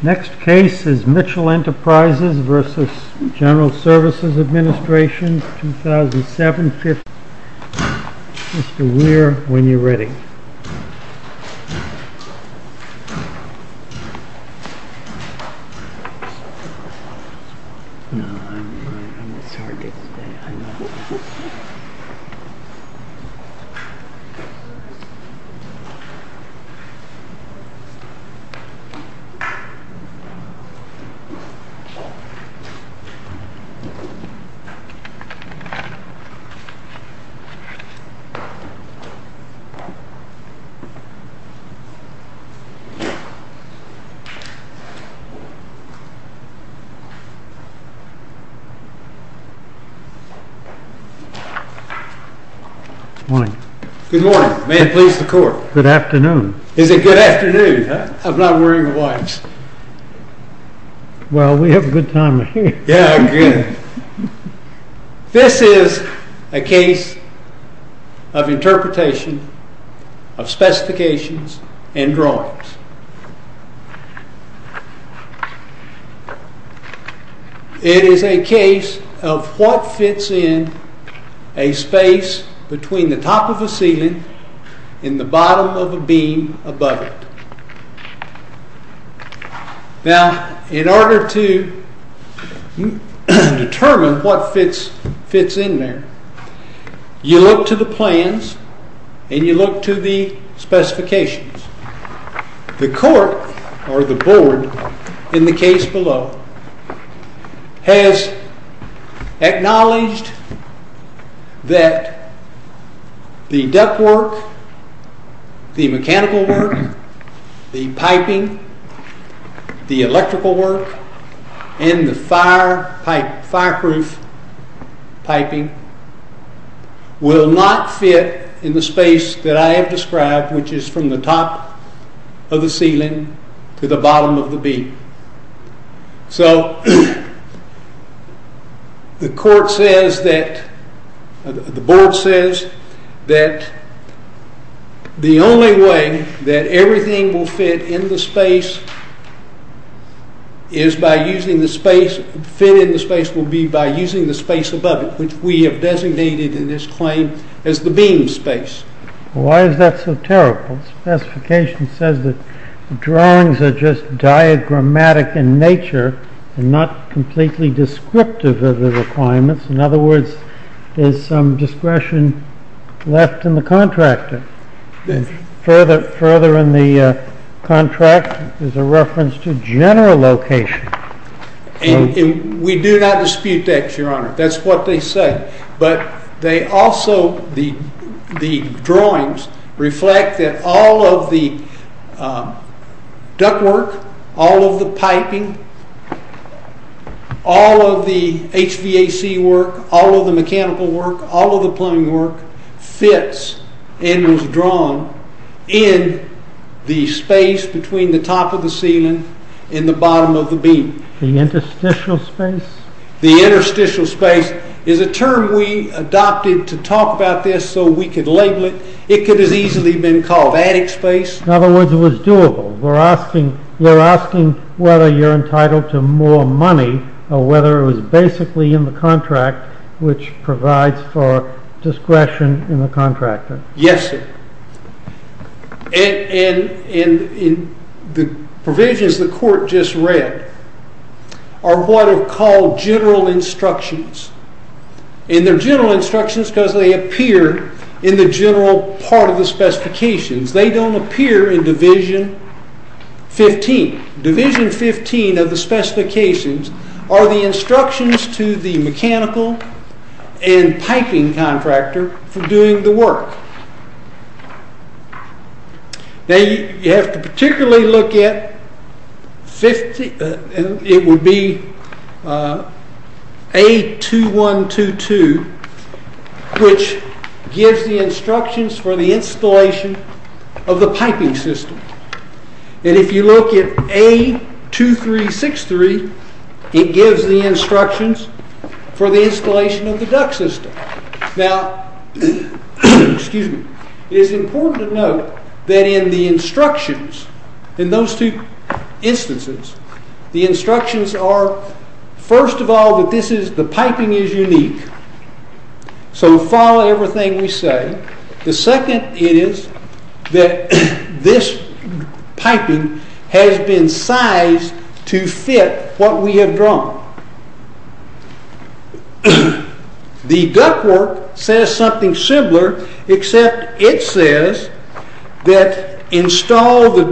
Next case is Mitchell Enterprises v. General Services Administration, 2007 Mr. Weir, when you are ready. Good morning. May it please the court. Good afternoon. Is it good afternoon? I'm not wearing a watch. Well, we have a good time here. This is a case of interpretation of specifications and drawings. It is a case of what fits in a space between the top of a ceiling and the bottom of a beam above it. Now, in order to determine what fits in there, you look to the plans and you look to the specifications. The court, or the board, in the case below, has acknowledged that the ductwork, the mechanical work, the piping, the electrical work, and the fireproof piping will not fit in the space that I have described, which is from the top of the ceiling to the bottom of the beam. So, the board says that the only way that everything will fit in the space will be by using the space above it, which we have designated in this claim as the beam space. Why is that so terrible? The specification says that the drawings are just diagrammatic in nature and not completely descriptive of the requirements. In other words, there is some discretion left in the contractor. Further in the contract is a reference to general location. We do not dispute that, Your Honor. That's what they say. The drawings reflect that all of the ductwork, all of the piping, all of the HVAC work, all of the mechanical work, all of the plumbing work fits and was drawn in the space between the top of the ceiling and the bottom of the beam. The interstitial space? The interstitial space is a term we adopted to talk about this so we could label it. It could have easily been called attic space. In other words, it was doable. We're asking whether you're entitled to more money or whether it was basically in the contract which provides for discretion in the contractor. Yes, sir. The provisions the court just read are what are called general instructions. They're general instructions because they appear in the general part of the specifications. They don't appear in Division 15. Division 15 of the specifications are the instructions to the mechanical and piping contractor for doing the work. You have to particularly look at A2122, which gives the instructions for the installation of the piping system. If you look at A2363, it gives the instructions for the installation of the duct system. It is important to note that in the instructions, in those two instances, the instructions are first of all that the piping is unique. So follow everything we say. The second is that this piping has been sized to fit what we have drawn. The duct work says something similar, except it says that the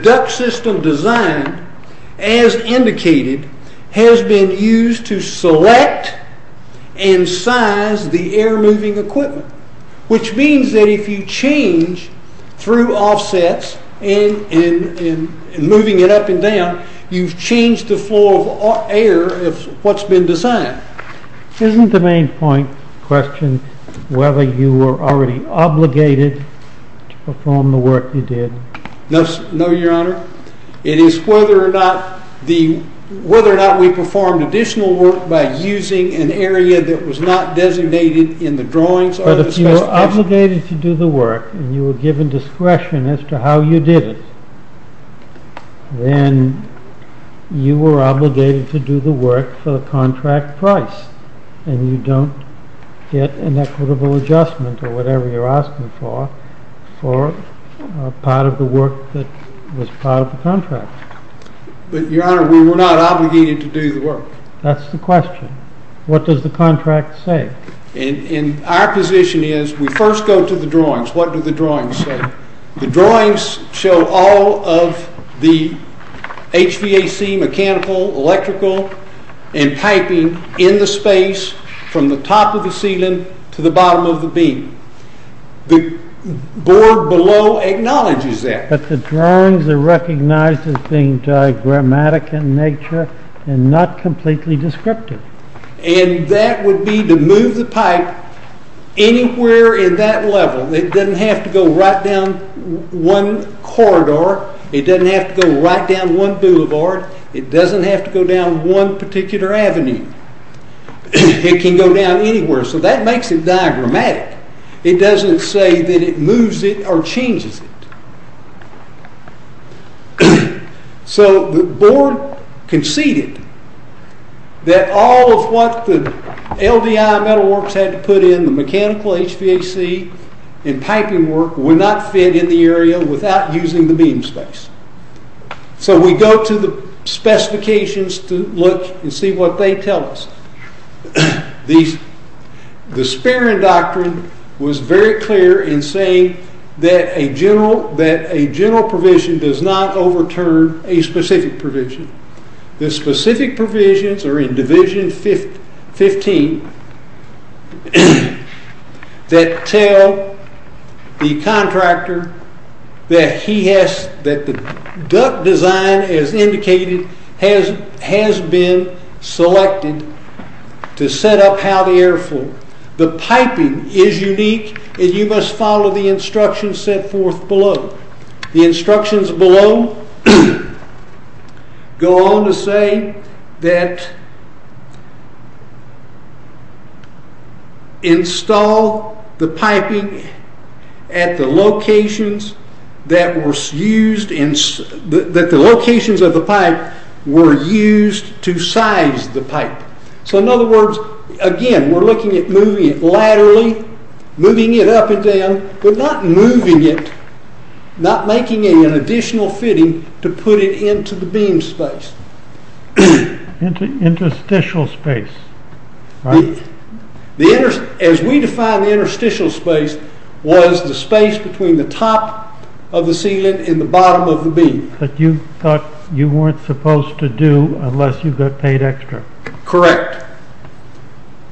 duct system design, as indicated, has been used to select and size the air moving equipment. Which means that if you change through offsets and moving it up and down, you've changed the flow of air of what's been designed. Isn't the main point questioned whether you were already obligated to perform the work you did? No, Your Honor. It is whether or not we performed additional work by using an area that was not designated in the drawings. But if you were obligated to do the work, and you were given discretion as to how you did it, then you were obligated to do the work for the contract price, and you don't get an equitable adjustment, or whatever you're asking for, for part of the work that was part of the contract. But, Your Honor, we were not obligated to do the work. That's the question. What does the contract say? Our position is we first go to the drawings. What do the drawings say? The drawings show all of the HVAC, mechanical, electrical, and piping in the space from the top of the ceiling to the bottom of the beam. The board below acknowledges that. But the drawings are recognized as being diagrammatic in nature and not completely descriptive. And that would be to move the pipe anywhere in that level. It doesn't have to go right down one corridor. It doesn't have to go right down one boulevard. It doesn't have to go down one particular avenue. It can go down anywhere. So that makes it diagrammatic. It doesn't say that it moves it or changes it. So the board conceded that all of what the LDI Metalworks had to put in, the mechanical HVAC and piping work, were not fit in the area without using the beam space. So we go to the specifications to look and see what they tell us. The Sparing Doctrine was very clear in saying that a general provision does not overturn a specific provision. The specific provisions are in Division 15 that tell the contractor that the duct design, as indicated, has been selected to set up how the air flow. The piping is unique and you must follow the instructions set forth below. The instructions below go on to say that install the piping at the locations that were used to size the pipe. So in other words, again, we're looking at moving it laterally, moving it up and down, but not moving it, not making it an additional fitting to put it into the beam space. Into interstitial space. As we define the interstitial space, it was the space between the top of the ceiling and the bottom of the beam. That you thought you weren't supposed to do unless you got paid extra. Correct.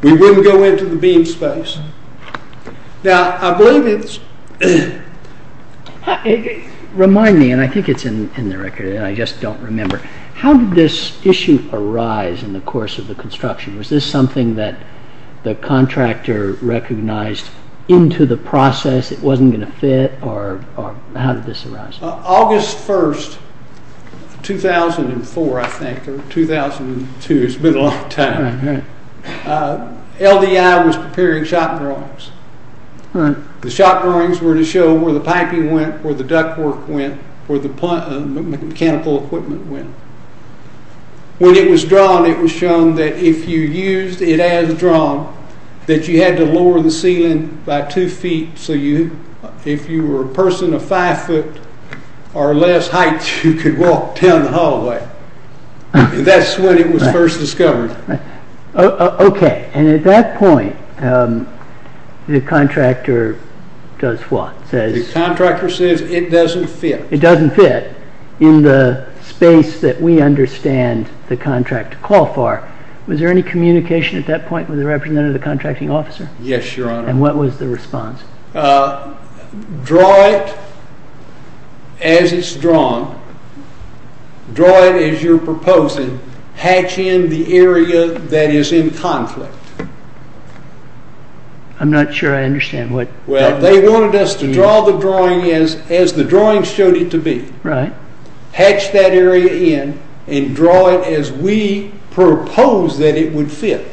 We wouldn't go into the beam space. Now, I believe it's... Remind me, and I think it's in the record and I just don't remember. How did this issue arise in the course of the construction? Was this something that the contractor recognized into the process it wasn't going to fit or how did this arise? August 1st, 2004, I think, or 2002, it's been a long time. LDI was preparing shop drawings. The shop drawings were to show where the piping went, where the duct work went, where the mechanical equipment went. When it was drawn, it was shown that if you used it as drawn, that you had to lower the ceiling by two feet, so if you were a person of five foot or less height, you could walk down the hallway. That's when it was first discovered. Okay, and at that point, the contractor does what? The contractor says it doesn't fit. It doesn't fit in the space that we understand the contract to call for. Was there any communication at that point with the representative of the contracting officer? Yes, Your Honor. And what was the response? Draw it as it's drawn. Draw it as you're proposing. Hatch in the area that is in conflict. I'm not sure I understand what... Well, they wanted us to draw the drawing as the drawing showed it to be. Hatch that area in and draw it as we proposed that it would fit.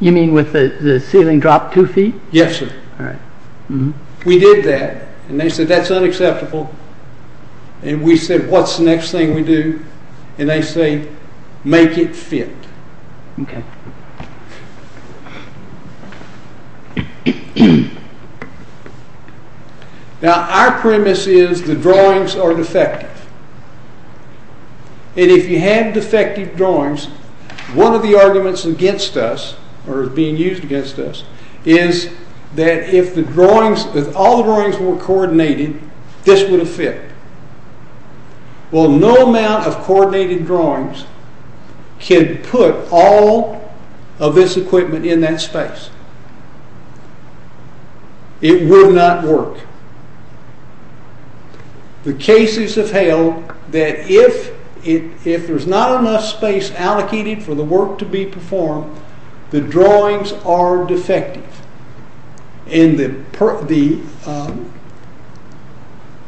You mean with the ceiling dropped two feet? Yes, sir. All right. We did that, and they said, that's unacceptable. And we said, what's the next thing we do? And they say, make it fit. Okay. Now, our premise is the drawings are defective. And if you had defective drawings, one of the arguments against us, or being used against us, is that if all the drawings were coordinated, this would have fit. Well, no amount of coordinated drawings can put all of this equipment in that space. It would not work. The cases have held that if there's not enough space allocated for the work to be performed, the drawings are defective. And the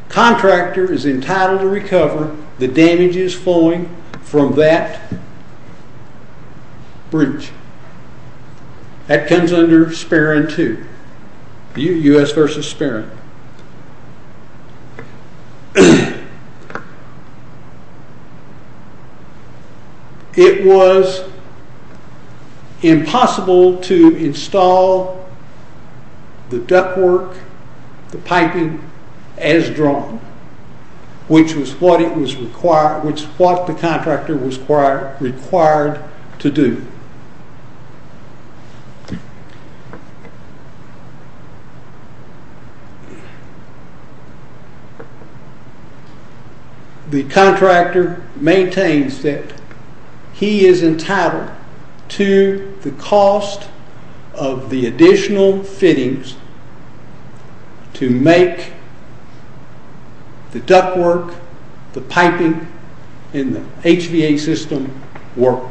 contractor is entitled to recover the damages flowing from that bridge. That comes under SPARIN 2, U.S. versus SPARIN. It was impossible to install the ductwork, the piping, as drawn, which was what the contractor was required to do. The contractor maintains that he is entitled to the cost of the additional fittings to make the ductwork, the piping, and the HVA system work.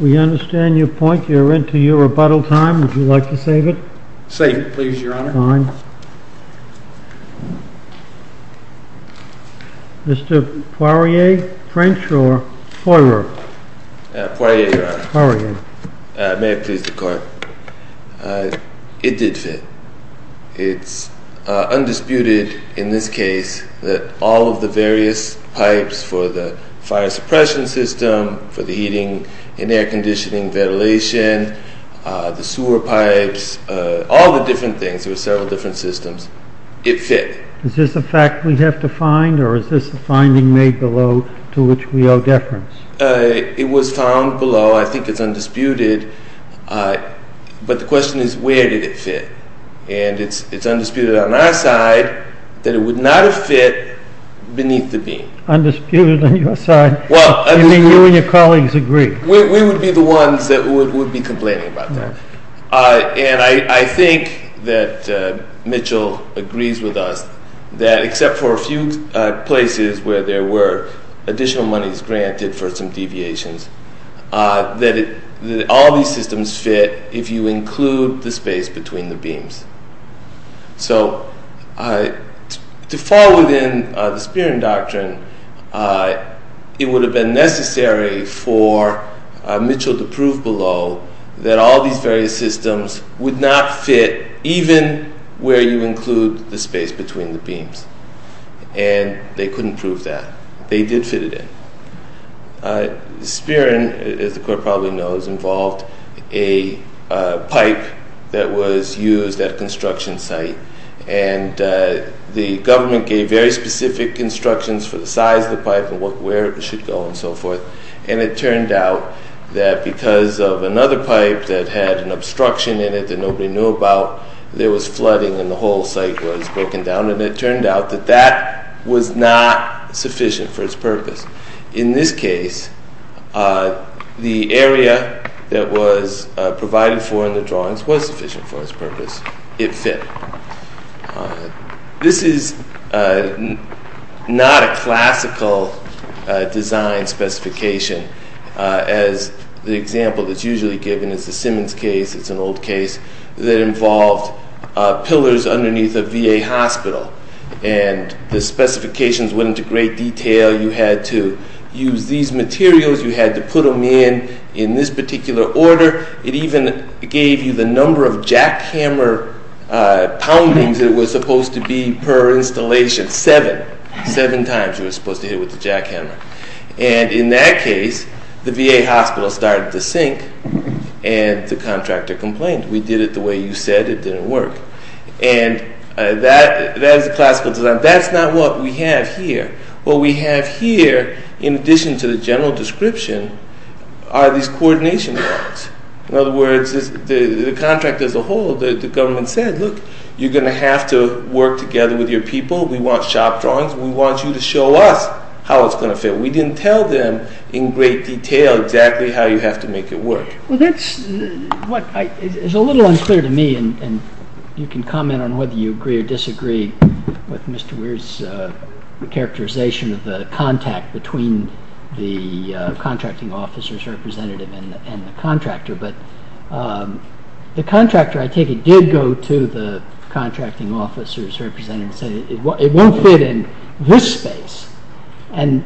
We understand your point. You're into your rebuttal time. Would you like to save it? Save it, please, Your Honor. Fine. Mr. Poirier, French or Poirier? Poirier, Your Honor. Poirier. May it please the Court. It did fit. It's undisputed in this case that all of the various pipes for the fire suppression system, for the heating and air conditioning, ventilation, the sewer pipes, all the different things, there were several different systems, it fit. Is this a fact we have to find, or is this a finding made below to which we owe deference? It was found below. I think it's undisputed. But the question is, where did it fit? And it's undisputed on our side that it would not have fit beneath the beam. Undisputed on your side? You mean you and your colleagues agree? We would be the ones that would be complaining about that. And I think that Mitchell agrees with us that except for a few places where there were additional monies granted for some deviations, that all these systems fit if you include the space between the beams. So to fall within the Spearing Doctrine, it would have been necessary for Mitchell to prove below that all these various systems would not fit even where you include the space between the beams. And they couldn't prove that. They did fit it in. Spearing, as the Court probably knows, involved a pipe that was used at a construction site. And the government gave very specific instructions for the size of the pipe and where it should go and so forth. And it turned out that because of another pipe that had an obstruction in it that nobody knew about, there was flooding and the whole site was broken down. And it turned out that that was not sufficient for its purpose. In this case, the area that was provided for in the drawings was sufficient for its purpose. It fit. This is not a classical design specification. As the example that's usually given is the Simmons case. It's an old case that involved pillars underneath a VA hospital. And the specifications went into great detail. You had to use these materials. You had to put them in in this particular order. It even gave you the number of jackhammer poundings it was supposed to be per installation, seven. Seven times you were supposed to hit with the jackhammer. And in that case, the VA hospital started to sink and the contractor complained. We did it the way you said. It didn't work. And that is a classical design. That's not what we have here. What we have here, in addition to the general description, are these coordination drawings. In other words, the contract as a whole, the government said, look, you're going to have to work together with your people. We want shop drawings. We want you to show us how it's going to fit. We didn't tell them in great detail exactly how you have to make it work. Well, that's what is a little unclear to me. And you can comment on whether you agree or disagree with Mr. Weir's characterization of the contact between the contracting officer's representative and the contractor. But the contractor, I take it, did go to the contracting officer's representative and said it won't fit in this space. And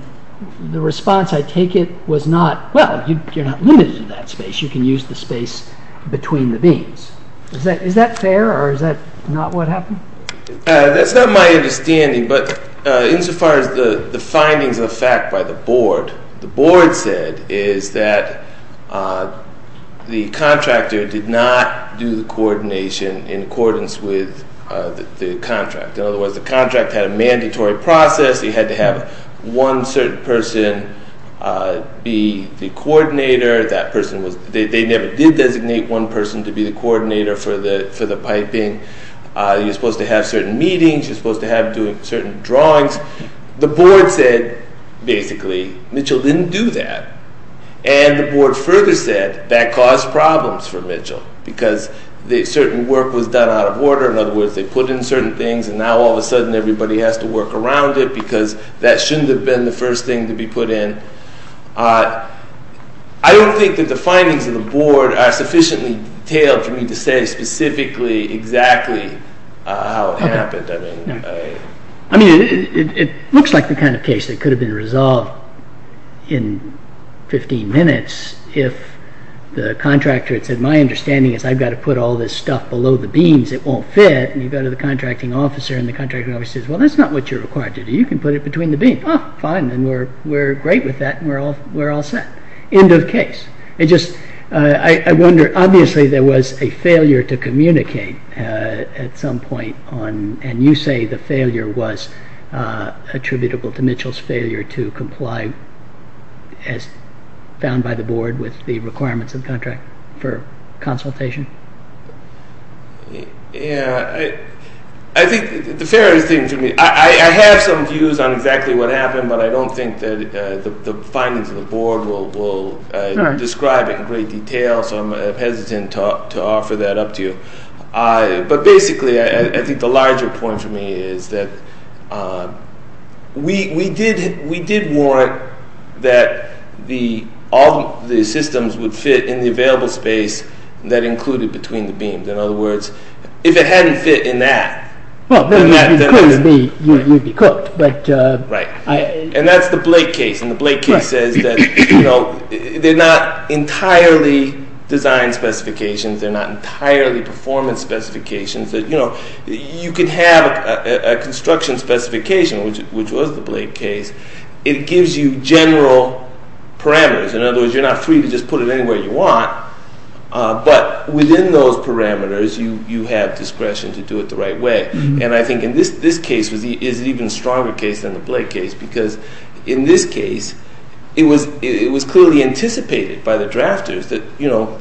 the response, I take it, was not, well, you're not limited to that space. You can use the space between the beams. Is that fair or is that not what happened? That's not my understanding. But insofar as the findings of the fact by the board, the board said is that the contractor did not do the coordination in accordance with the contract. In other words, the contract had a mandatory process. You had to have one certain person be the coordinator. They never did designate one person to be the coordinator for the piping. You're supposed to have certain meetings. You're supposed to have certain drawings. The board said, basically, Mitchell didn't do that. And the board further said that caused problems for Mitchell because certain work was done out of order. In other words, they put in certain things and now all of a sudden everybody has to work around it because that shouldn't have been the first thing to be put in. I don't think that the findings of the board are sufficiently detailed for me to say specifically exactly how it happened. I mean, it looks like the kind of case that could have been resolved in 15 minutes if the contractor had said, my understanding is I've got to put all this stuff below the beams. It won't fit. And you go to the contracting officer and the contracting officer says, well, that's not what you're required to do. You can put it between the beams. Oh, fine. Then we're great with that and we're all set. End of case. I wonder, obviously, there was a failure to communicate at some point. And you say the failure was attributable to Mitchell's failure to comply, as found by the board, with the requirements of the contract for consultation. Yeah. I think the fairest thing to me, I have some views on exactly what happened, but I don't think that the findings of the board will describe it in great detail, so I'm hesitant to offer that up to you. But basically, I think the larger point for me is that we did warrant that all the systems would fit in the available space that included between the beams. In other words, if it hadn't fit in that, then I think you'd be cooked. Right. And that's the Blake case. And the Blake case says that they're not entirely design specifications. They're not entirely performance specifications. You could have a construction specification, which was the Blake case. It gives you general parameters. In other words, you're not free to just put it anywhere you want. But within those parameters, you have discretion to do it the right way. And I think in this case is an even stronger case than the Blake case, because in this case, it was clearly anticipated by the drafters that, you know,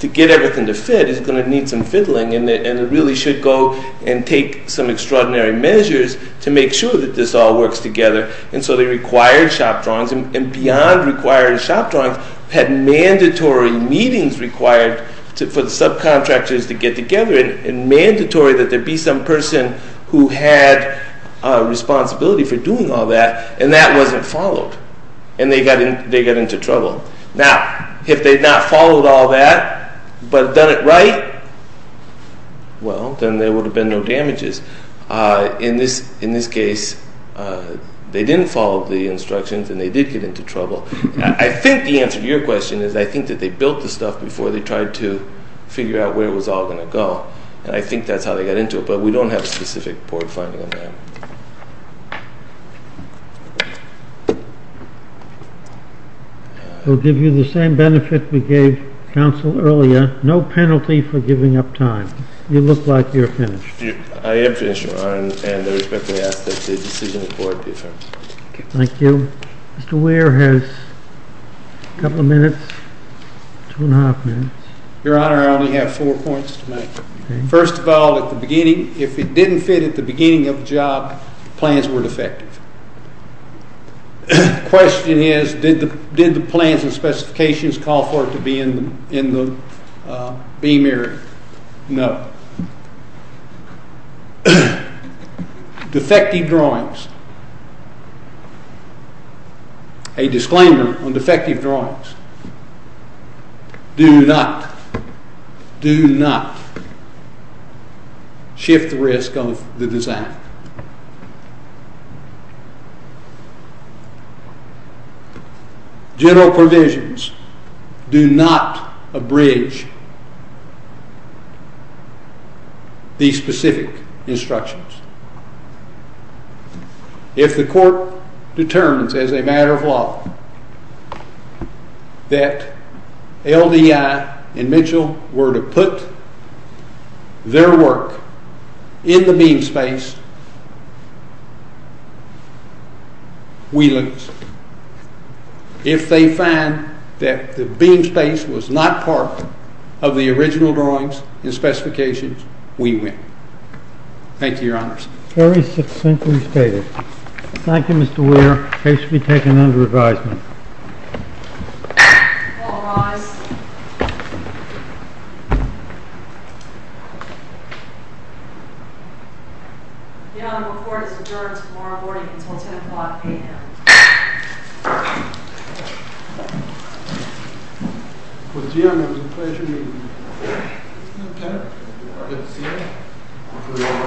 to get everything to fit, it's going to need some fiddling, and it really should go and take some extraordinary measures to make sure that this all works together. And so they required shop drawings, and beyond required shop drawings, had mandatory meetings required for the subcontractors to get together, and mandatory that there be some person who had responsibility for doing all that, and that wasn't followed. And they got into trouble. Now, if they had not followed all that but done it right, well, then there would have been no damages. In this case, they didn't follow the instructions, and they did get into trouble. I think the answer to your question is I think that they built the stuff before they tried to figure out where it was all going to go, and I think that's how they got into it. But we don't have a specific report finding on that. We'll give you the same benefit we gave counsel earlier. No penalty for giving up time. You look like you're finished. I am finished, Your Honor, and I respectfully ask that the decision report be affirmed. Thank you. Mr. Weir has a couple of minutes, two and a half minutes. Your Honor, I only have four points to make. First of all, at the beginning, if it didn't fit at the beginning of the job, plans were defective. The question is did the plans and specifications call for it to be in the beam area? No. Defective drawings. A disclaimer on defective drawings. Do not, do not shift the risk of the design. General provisions do not abridge these specific instructions. If the court determines as a matter of law that LDI and Mitchell were to put their work in the beam space, we lose. If they find that the beam space was not part of the original drawings and specifications, we win. Thank you, Your Honors. Very succinctly stated. Thank you, Mr. Weir. Case will be taken under advisement. All rise. The honorable court is adjourned tomorrow morning until 10 o'clock a.m. Thank you, Your Honor.